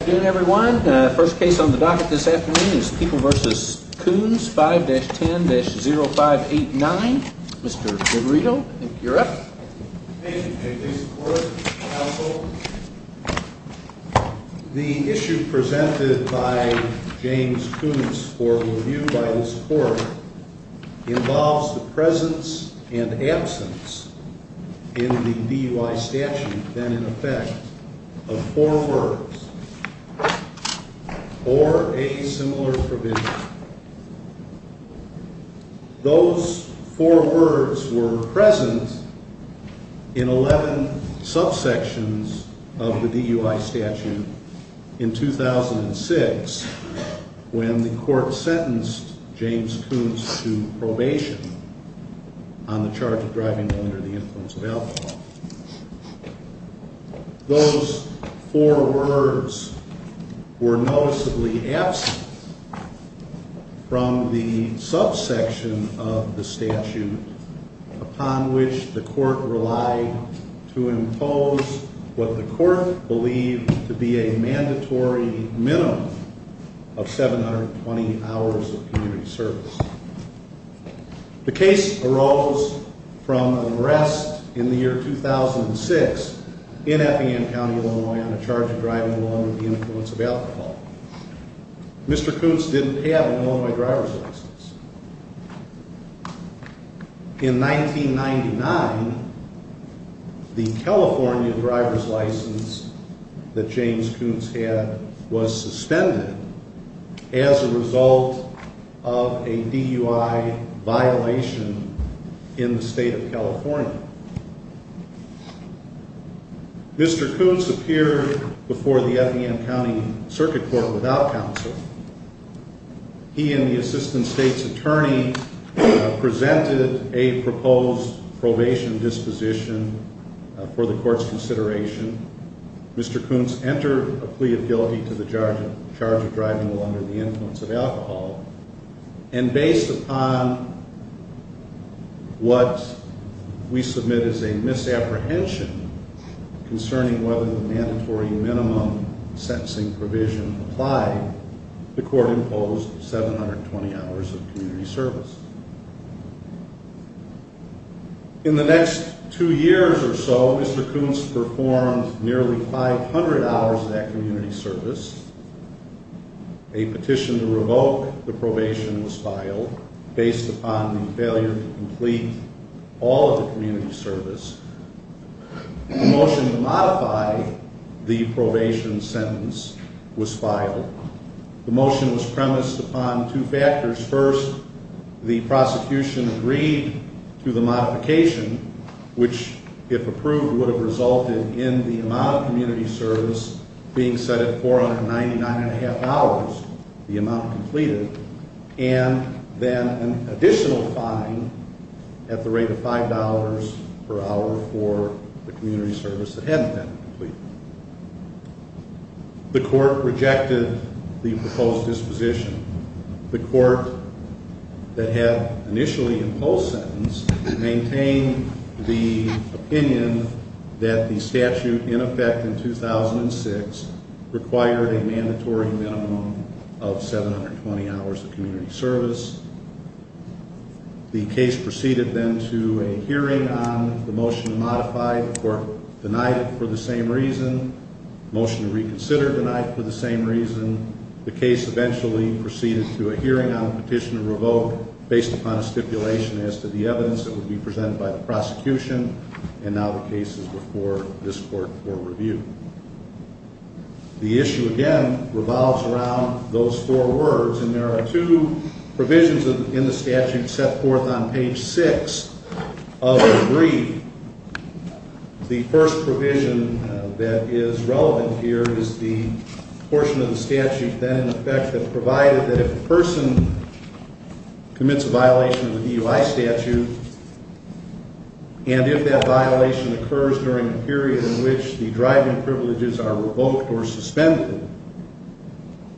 Good afternoon, everyone. First case on the docket this afternoon is People v. Kuhns, 5-10-0589. Mr. Grigorito, I think you're up. Thank you. May it please the Court, counsel? The issue presented by James Kuhns for review by this Court involves the presence and absence in the DUI statute, then in effect, of four words or a similar provision. Those four words were present in 11 subsections of the DUI statute in 2006 when the Court sentenced James Kuhns to probation on the charge of driving under the influence of alcohol. Those four words were noticeably absent from the subsection of the statute upon which the Court relied to impose what the Court believed to be a mandatory minimum of 720 hours of community service. The case arose from an arrest in the year 2006 in Effingham County, Illinois, on the charge of driving under the influence of alcohol. Mr. Kuhns didn't have an Illinois driver's license. In 1999, the California driver's license that James Kuhns had was suspended as a result of a DUI violation in the state of California. Mr. Kuhns appeared before the Effingham County Circuit Court without counsel. He and the Assistant State's Attorney presented a proposed probation disposition for the Court's consideration. Mr. Kuhns entered a plea of guilty to the charge of driving under the influence of alcohol, and based upon what we submit as a misapprehension concerning whether the mandatory minimum sentencing provision applied, the Court imposed 720 hours of community service. In the next two years or so, Mr. Kuhns performed nearly 500 hours of that community service. A petition to revoke the probation was filed based upon the failure to complete all of the community service. A motion to modify the probation sentence was filed. The motion was premised upon two factors. First, the prosecution agreed to the modification, which, if approved, would have resulted in the amount of community service being set at $499.5, the amount completed, and then an additional fine at the rate of $5 per hour for the community service that hadn't been completed. The Court rejected the proposed disposition. The Court that had initially imposed sentence maintained the opinion that the statute in effect in 2006 required a mandatory minimum of 720 hours of community service. The case proceeded then to a hearing on the motion to modify. The Court denied it for the same reason. The motion to reconsider denied it for the same reason. The case eventually proceeded to a hearing on a petition to revoke based upon a stipulation as to the evidence that would be presented by the prosecution, and now the case is before this Court for review. The issue, again, revolves around those four words, and there are two provisions in the statute set forth on page 6 of the brief. The first provision that is relevant here is the portion of the statute then in effect that provided that if a person commits a violation of the DUI statute, and if that violation occurs during a period in which the driving privileges are revoked or suspended,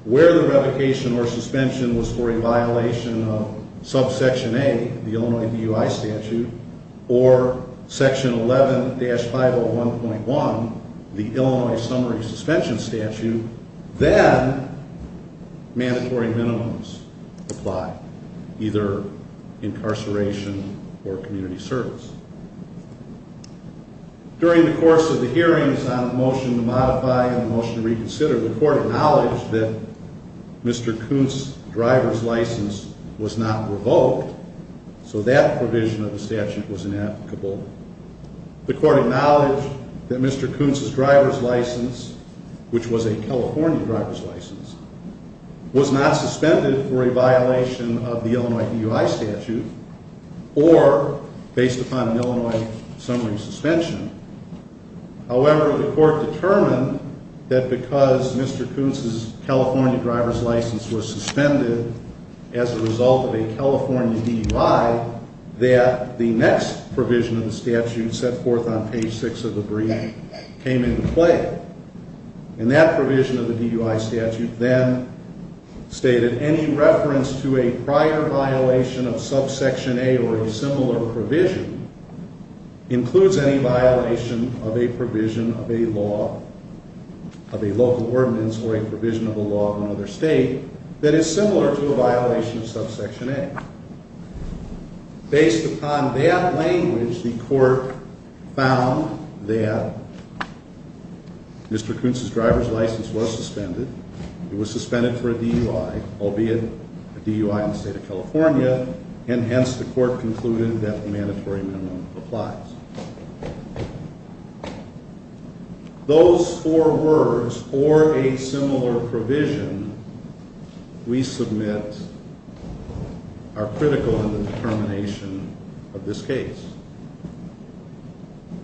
where the revocation or suspension was for a violation of subsection A, the Illinois DUI statute, or section 11-501.1, the Illinois summary suspension statute, then mandatory minimums apply, either incarceration or community service. During the course of the hearings on the motion to modify and the motion to reconsider, the Court acknowledged that Mr. Kuntz's driver's license was not revoked, so that provision of the statute was inapplicable. The Court acknowledged that Mr. Kuntz's driver's license, which was a California driver's license, was not suspended for a violation of the Illinois DUI statute or based upon an Illinois summary suspension. However, the Court determined that because Mr. Kuntz's California driver's license was suspended as a result of a California DUI, that the next provision of the statute set forth on page 6 of the brief came into play. And that provision of the DUI statute then stated, that any reference to a prior violation of subsection A or a similar provision includes any violation of a provision of a law, of a local ordinance or a provision of a law of another state that is similar to a violation of subsection A. Based upon that language, the Court found that Mr. Kuntz's driver's license was suspended. It was suspended for a DUI, albeit a DUI in the state of California, and hence the Court concluded that the mandatory minimum applies. Those four words, or a similar provision, we submit are critical in the determination of this case.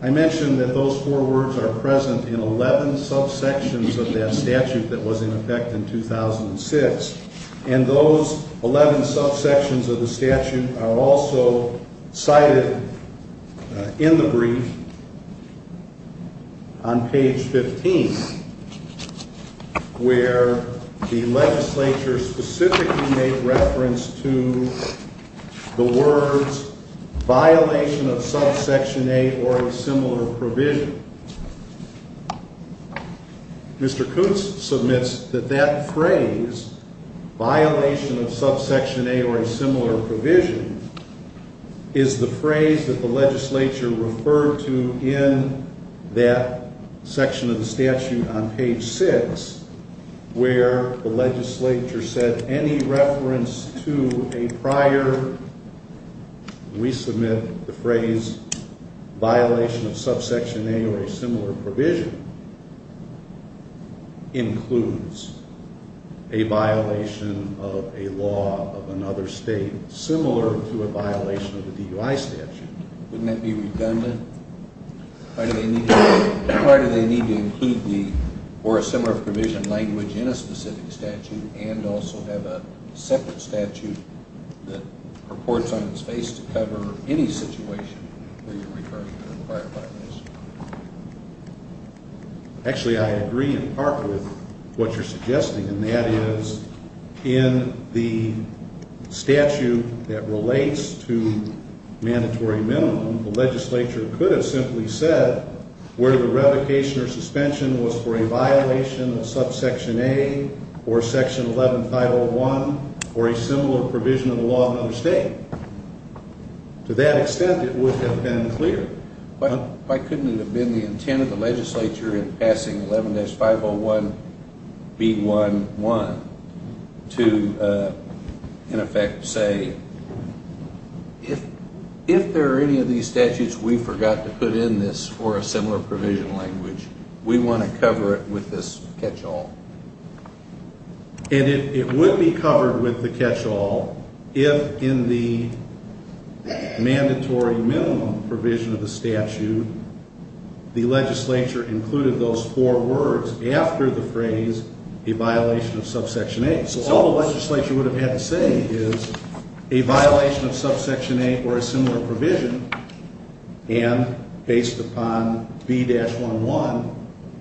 I mentioned that those four words are present in 11 subsections of that statute that was in effect in 2006. And those 11 subsections of the statute are also cited in the brief on page 15, where the legislature specifically made reference to the words violation of subsection A or a similar provision. Mr. Kuntz submits that that phrase, violation of subsection A or a similar provision, is the phrase that the legislature referred to in that section of the statute on page 6, where the legislature said any reference to a prior, we submit the phrase, violation of subsection A or a similar provision includes a violation of a law of another state similar to a violation of the DUI statute. Wouldn't that be redundant? Why do they need to include the or a similar provision language in a specific statute and also have a separate statute that purports on its face to cover any situation where you're referring to a prior violation? Actually, I agree in part with what you're suggesting, and that is in the statute that relates to mandatory minimum, the legislature could have simply said where the revocation or suspension was for a violation of subsection A or section 11501 or a similar provision of the law of another state. To that extent, it would have been clear. Why couldn't it have been the intent of the legislature in passing 11-501B11 to, in effect, say, if there are any of these statutes, we forgot to put in this or a similar provision language, we want to cover it with this catch-all. And it would be covered with the catch-all if in the mandatory minimum provision of the statute the legislature included those four words after the phrase a violation of subsection A. So all the legislature would have had to say is a violation of subsection A or a similar provision and based upon B-11,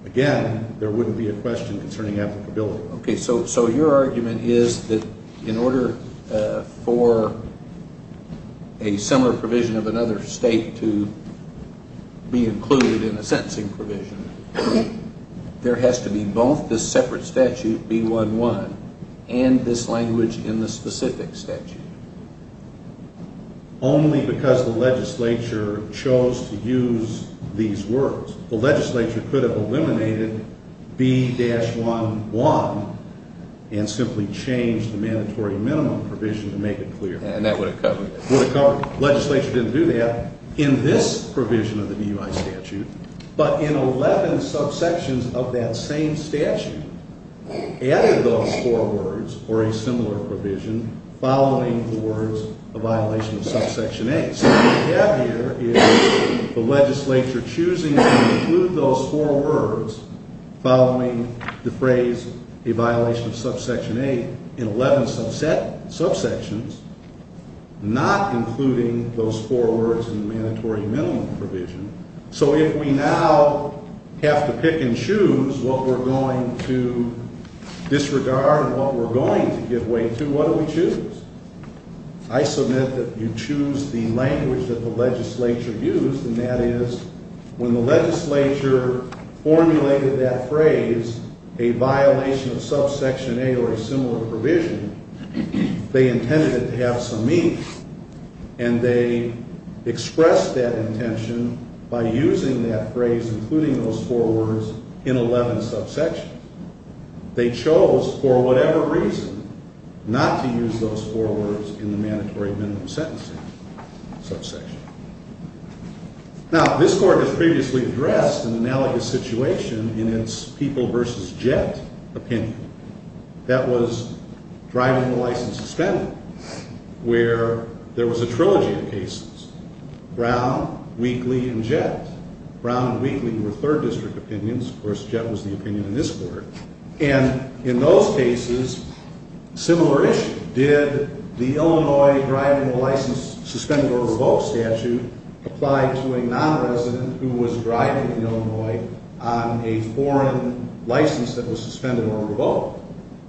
again, there wouldn't be a question concerning applicability. Okay, so your argument is that in order for a similar provision of another state to be included in a sentencing provision, there has to be both this separate statute, B-11, and this language in the specific statute. Only because the legislature chose to use these words. The legislature could have eliminated B-11 and simply changed the mandatory minimum provision to make it clear. And that would have covered it. Would have covered it. The legislature didn't do that in this provision of the DUI statute, but in 11 subsections of that same statute added those four words or a similar provision following the words a violation of subsection A. So what we have here is the legislature choosing to include those four words following the phrase a violation of subsection A in 11 subsections, not including those four words in the mandatory minimum provision. So if we now have to pick and choose what we're going to disregard and what we're going to give way to, what do we choose? I submit that you choose the language that the legislature used, and that is when the legislature formulated that phrase, a violation of subsection A or a similar provision, they intended it to have some meaning, and they expressed that intention by using that phrase, including those four words, in 11 subsections. They chose for whatever reason not to use those four words in the mandatory minimum sentencing subsection. Now, this Court has previously addressed an analogous situation in its people versus jet opinion. That was driving the license suspended, where there was a trilogy of cases. Brown, Wheatley, and jet. Brown and Wheatley were third district opinions. Of course, jet was the opinion in this Court. And in those cases, similar issue. Did the Illinois driving the license suspended or revoked statute apply to a nonresident who was driving in Illinois on a foreign license that was suspended or revoked?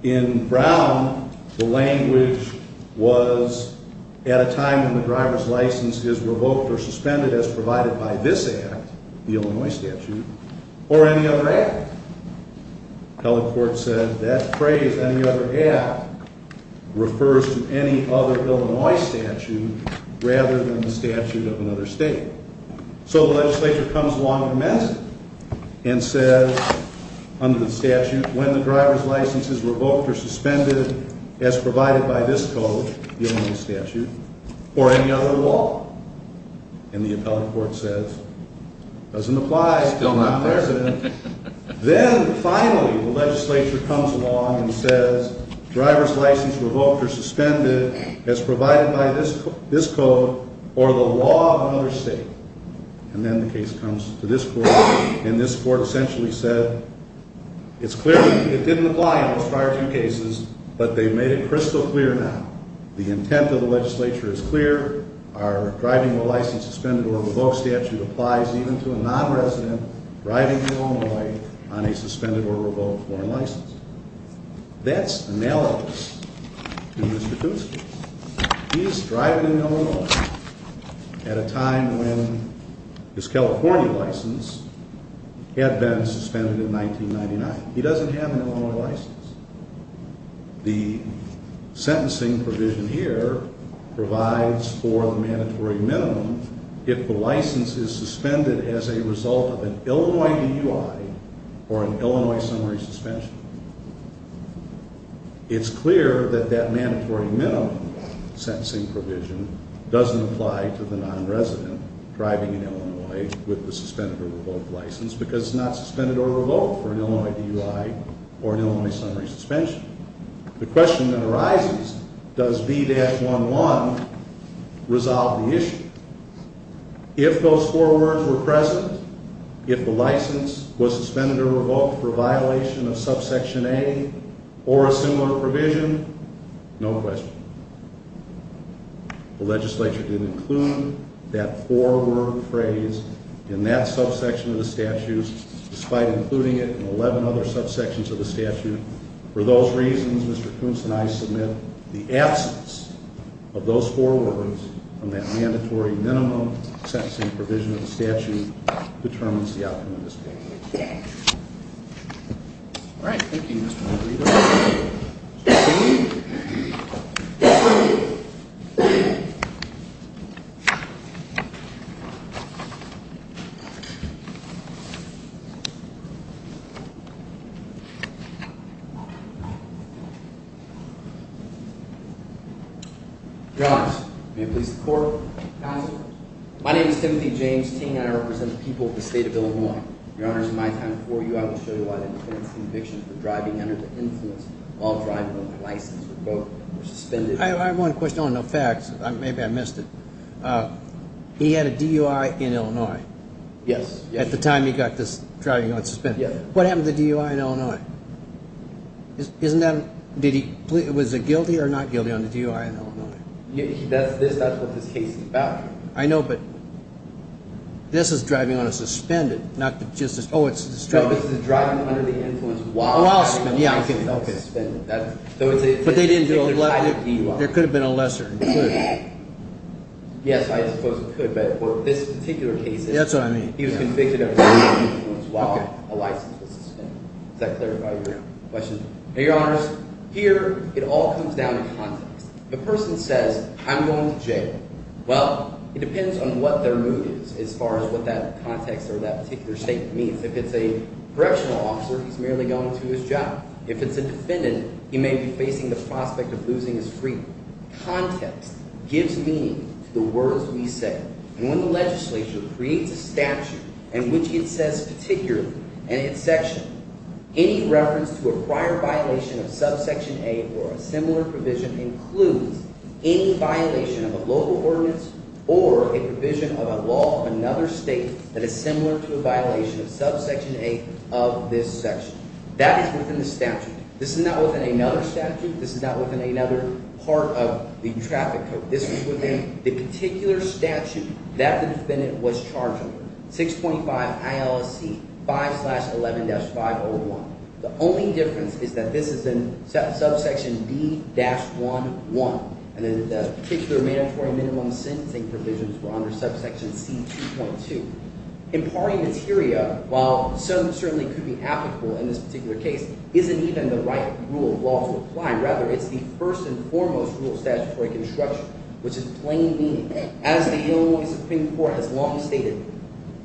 In Brown, the language was at a time when the driver's license is revoked or suspended as provided by this act, the Illinois statute, or any other act. The public court said that phrase, any other act, refers to any other Illinois statute rather than the statute of another state. So the legislature comes along immensely and says, under the statute, when the driver's license is revoked or suspended as provided by this code, the Illinois statute, or any other law. And the appellate court says, doesn't apply to a nonresident. Then, finally, the legislature comes along and says, driver's license revoked or suspended as provided by this code or the law of another state. And then the case comes to this Court, and this Court essentially said, it's clear it didn't apply in those prior two cases, but they've made it crystal clear now. The intent of the legislature is clear. Our driving the license suspended or revoked statute applies even to a nonresident driving Illinois on a suspended or revoked foreign license. That's analogous to Mr. Kucinich. He's driving in Illinois at a time when his California license had been suspended in 1999. He doesn't have an Illinois license. The sentencing provision here provides for the mandatory minimum if the license is suspended as a result of an Illinois DUI or an Illinois summary suspension. It's clear that that mandatory minimum sentencing provision doesn't apply to the nonresident driving in Illinois with a suspended or revoked license because it's not suspended or revoked for an Illinois DUI or an Illinois summary suspension. The question that arises, does B-11 resolve the issue? If those four words were present, if the license was suspended or revoked for a violation of subsection A or a similar provision, no question. The legislature didn't include that four-word phrase in that subsection of the statute, despite including it in 11 other subsections of the statute. For those reasons, Mr. Kucinich, I submit the absence of those four words from that mandatory minimum sentencing provision of the statute determines the outcome of this case. All right. Thank you, Mr. Kucinich. Your honors, may it please the court. My name is Timothy James Ting, and I represent the people of the state of Illinois. Your honors, in my time before you, I will show you why the defense's conviction for driving under the influence while driving on a license revoked or suspended. I have one question on the facts. Maybe I missed it. He had a DUI in Illinois. Yes. At the time he got this driving on suspended. Yes. What happened to the DUI in Illinois? Isn't that – was he guilty or not guilty on the DUI in Illinois? That's what this case is about. I know, but this is driving on a suspended, not just a – oh, it's – No, this is driving under the influence while on a license suspended. But they didn't do a – there could have been a lesser included. Yes, I suppose it could, but for this particular case, he was convicted of driving under the influence while a license was suspended. Is that clear about your question? Your honors, here it all comes down to context. The person says, I'm going to jail. Well, it depends on what their mood is as far as what that context or that particular statement means. If it's a correctional officer, he's merely going to his job. If it's a defendant, he may be facing the prospect of losing his freedom. Context gives meaning to the words we say. And when the legislature creates a statute in which it says particularly in its section, any reference to a prior violation of subsection A or a similar provision includes any violation of a local ordinance or a provision of a law of another state that is similar to a violation of subsection A of this section. That is within the statute. This is not within another statute. This is not within another part of the traffic code. This is within the particular statute that the defendant was charged under, 6.5 ILSC 5-11-501. The only difference is that this is in subsection B-11. And the particular mandatory minimum sentencing provisions were under subsection C-2.2. Imparting materia, while some certainly could be applicable in this particular case, isn't even the right rule of law to apply. Rather, it's the first and foremost rule of statutory construction, which is plain meaning. As the Illinois Supreme Court has long stated,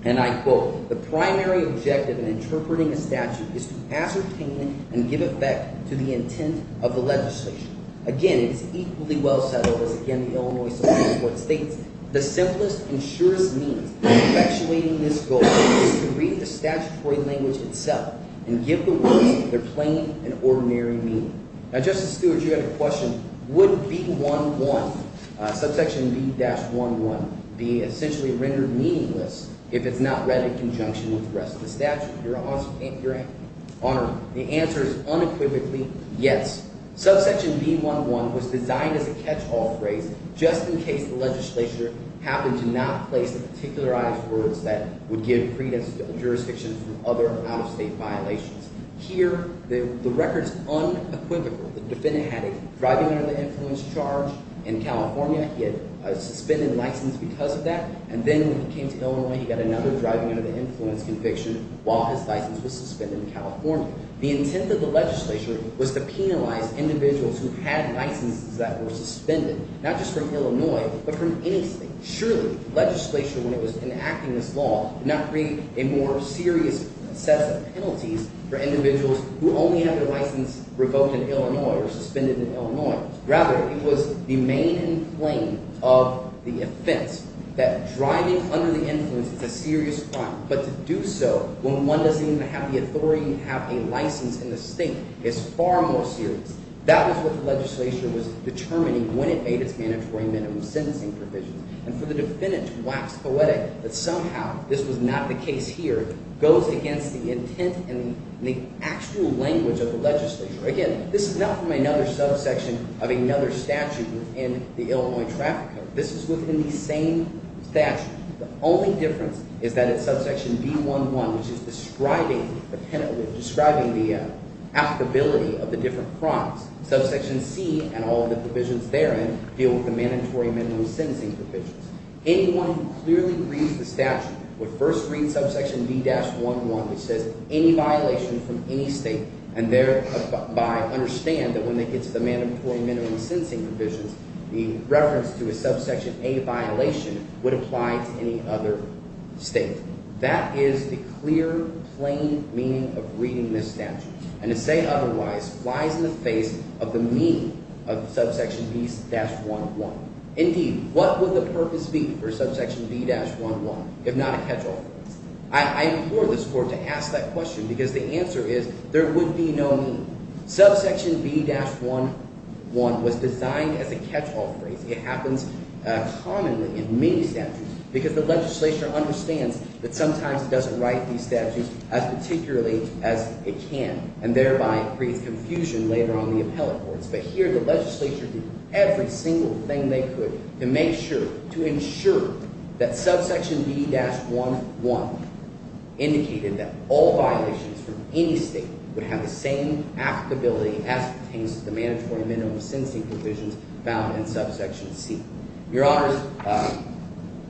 and I quote, the primary objective in interpreting a statute is to ascertain and give effect to the intent of the legislation. Again, it's equally well settled as, again, the Illinois Supreme Court states, the simplest and surest means of effectuating this goal is to read the statutory language itself and give the words their plain and ordinary meaning. Now, Justice Stewart, you have a question. Would B-11, subsection B-11, be essentially rendered meaningless if it's not read in conjunction with the rest of the statute? Your Honor, the answer is unequivocally yes. Subsection B-11 was designed as a catch-all phrase just in case the legislature happened to not place the particularized words that would give credence to the jurisdiction for other out-of-state violations. Here, the record is unequivocal. The defendant had a driving-under-the-influence charge in California. He had a suspended license because of that. And then when he came to Illinois, he got another driving-under-the-influence conviction while his license was suspended in California. The intent of the legislature was to penalize individuals who had licenses that were suspended, not just from Illinois but from anything. Surely, the legislature, when it was enacting this law, did not create a more serious set of penalties for individuals who only had their license revoked in Illinois or suspended in Illinois. Rather, it was the main claim of the offense that driving under the influence is a serious crime. But to do so when one doesn't even have the authority to have a license in the state is far more serious. That was what the legislature was determining when it made its mandatory minimum sentencing provisions. And for the defendant to wax poetic that somehow this was not the case here goes against the intent and the actual language of the legislature. Again, this is not from another subsection of another statute within the Illinois Traffic Code. This is within the same statute. The only difference is that it's subsection B-1-1, which is describing the applicability of the different crimes. Subsection C and all of the provisions therein deal with the mandatory minimum sentencing provisions. Anyone who clearly reads the statute would first read subsection B-1-1, which says any violation from any state and thereby understand that when they get to the mandatory minimum sentencing provisions, the reference to a subsection A violation would apply to any other state. That is the clear, plain meaning of reading this statute. And to say otherwise lies in the face of the meaning of subsection B-1-1. Indeed, what would the purpose be for subsection B-1-1 if not a catch-all offense? I implore this court to ask that question because the answer is there would be no meaning. Subsection B-1-1 was designed as a catch-all phrase. It happens commonly in many statutes because the legislature understands that sometimes it doesn't write these statutes as particularly as it can and thereby creates confusion later on in the appellate courts. But here the legislature did every single thing they could to make sure – to ensure that subsection B-1-1 indicated that all violations from any state would have the same applicability as pertains to the mandatory minimum sentencing provisions found in subsection C. Your Honors,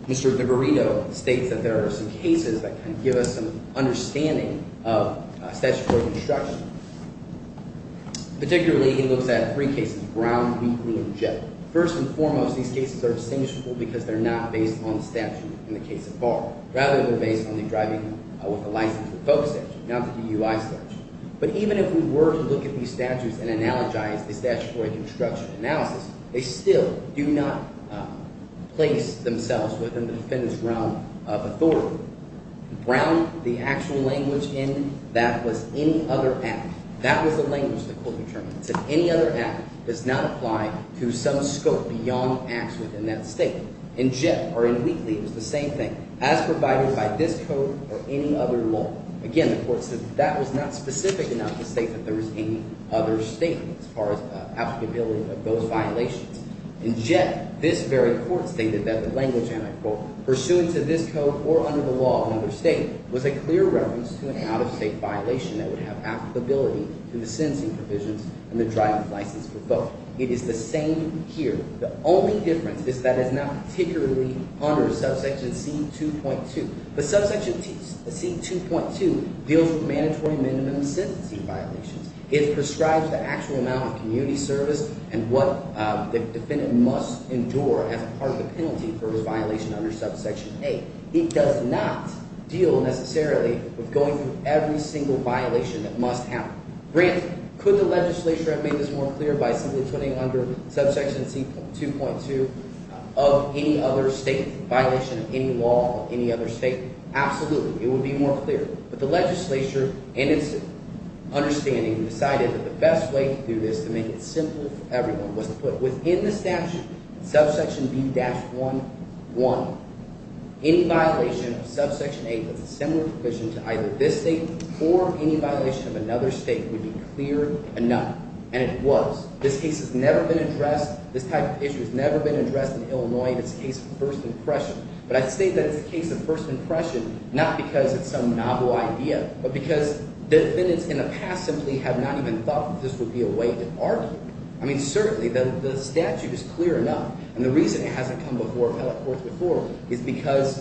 Mr. DeVarino states that there are some cases that can give us some understanding of statutory construction. Particularly, he looks at three cases, Brown, Wheatley, and Jett. First and foremost, these cases are distinguishable because they're not based on the statute in the case of Barr. Rather, they're based on the driving with a license with folks statute, not the DUI statute. But even if we were to look at these statutes and analogize the statutory construction analysis, they still do not place themselves within the defendant's realm of authority. Brown, the actual language in that was any other act. That was the language the court determined. It said any other act does not apply to some scope beyond acts within that state. In Jett or in Wheatley, it was the same thing, as provided by this code or any other law. Again, the court said that was not specific enough to state that there was any other statement as far as applicability of those violations. In Jett, this very court stated that the language, and I quote, pursuant to this code or under the law of another state, was a clear reference to an out-of-state violation that would have applicability to the sentencing provisions and the driving with license for both. It is the same here. The only difference is that it's not particularly under subsection C2.2. But subsection C2.2 deals with mandatory minimum sentencing violations. It prescribes the actual amount of community service and what the defendant must endure as part of the penalty for his violation under subsection A. It does not deal necessarily with going through every single violation that must happen. Grant, could the legislature have made this more clear by simply putting under subsection C2.2 of any other state violation of any law of any other state? Absolutely. It would be more clear. But the legislature, in its understanding, decided that the best way to do this, to make it simple for everyone, was to put within the statute, subsection B-1.1, any violation of subsection A with a similar provision to either this state or any violation of another state would be clear enough. And it was. This case has never been addressed. This type of issue has never been addressed in Illinois. It's a case of first impression. But I say that it's a case of first impression not because it's some novel idea but because defendants in the past simply have not even thought that this would be a way to argue. I mean, certainly the statute is clear enough. And the reason it hasn't come before appellate courts before is because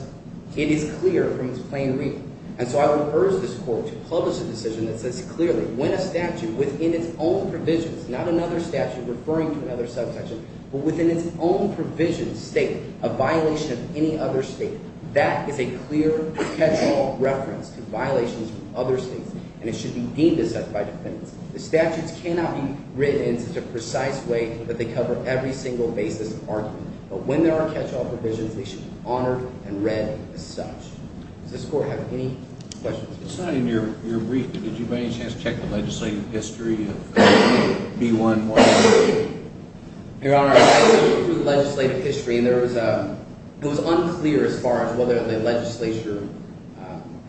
it is clear from its plain reading. And so I would urge this court to publish a decision that says clearly when a statute within its own provisions, not another statute referring to another subsection, but within its own provision state a violation of any other state, that is a clear catch-all reference to violations from other states, and it should be deemed as such by defendants. The statutes cannot be written in such a precise way that they cover every single basis of argument. But when there are catch-all provisions, they should be honored and read as such. Does this court have any questions? It's not in your brief. Did you by any chance check the legislative history of B-1-1? Your Honor, I looked through the legislative history, and there was – it was unclear as far as whether the legislature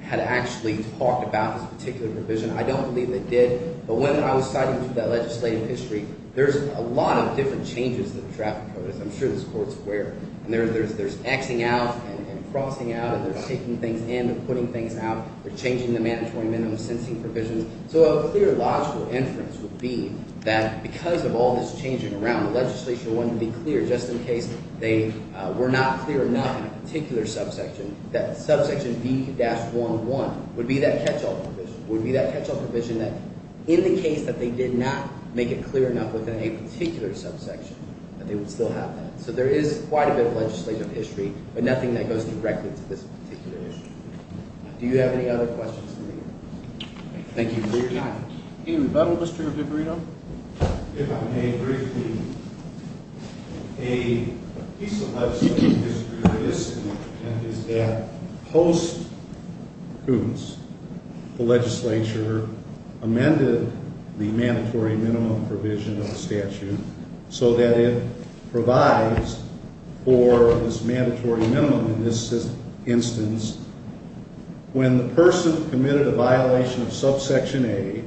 had actually talked about this particular provision. I don't believe they did. But when I was citing through that legislative history, there's a lot of different changes to the traffic code, as I'm sure this court's aware. And there's X-ing out and crossing out, and they're taking things in and putting things out. They're changing the mandatory minimum sensing provisions. So a clear logical inference would be that because of all this changing around, the legislature wanted to be clear just in case they were not clear enough in a particular subsection, that subsection B-1-1 would be that catch-all provision. It would be that catch-all provision that, in the case that they did not make it clear enough within a particular subsection, that they would still have that. So there is quite a bit of legislative history, but nothing that goes directly to this particular issue. Do you have any other questions? Thank you for your time. Any rebuttal, Mr. Viverito? If I may, briefly. A piece of legislative history that is in the present is that post-coups, the legislature amended the mandatory minimum provision of the statute so that it provides for this mandatory minimum in this instance. When the person committed a violation of subsection A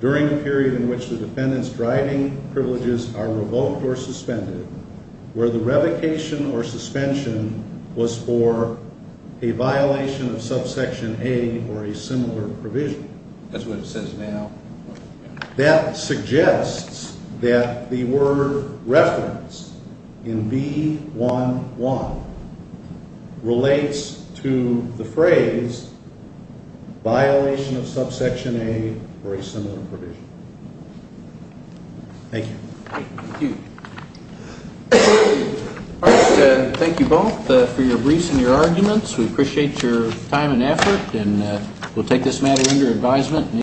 during a period in which the defendant's driving privileges are revoked or suspended, where the revocation or suspension was for a violation of subsection A or a similar provision. That's what it says now. That suggests that the word referenced in B-1-1 relates to the phrase violation of subsection A or a similar provision. Thank you. Thank you. Thank you both for your briefs and your arguments. We appreciate your time and effort, and we'll take this matter under advisement.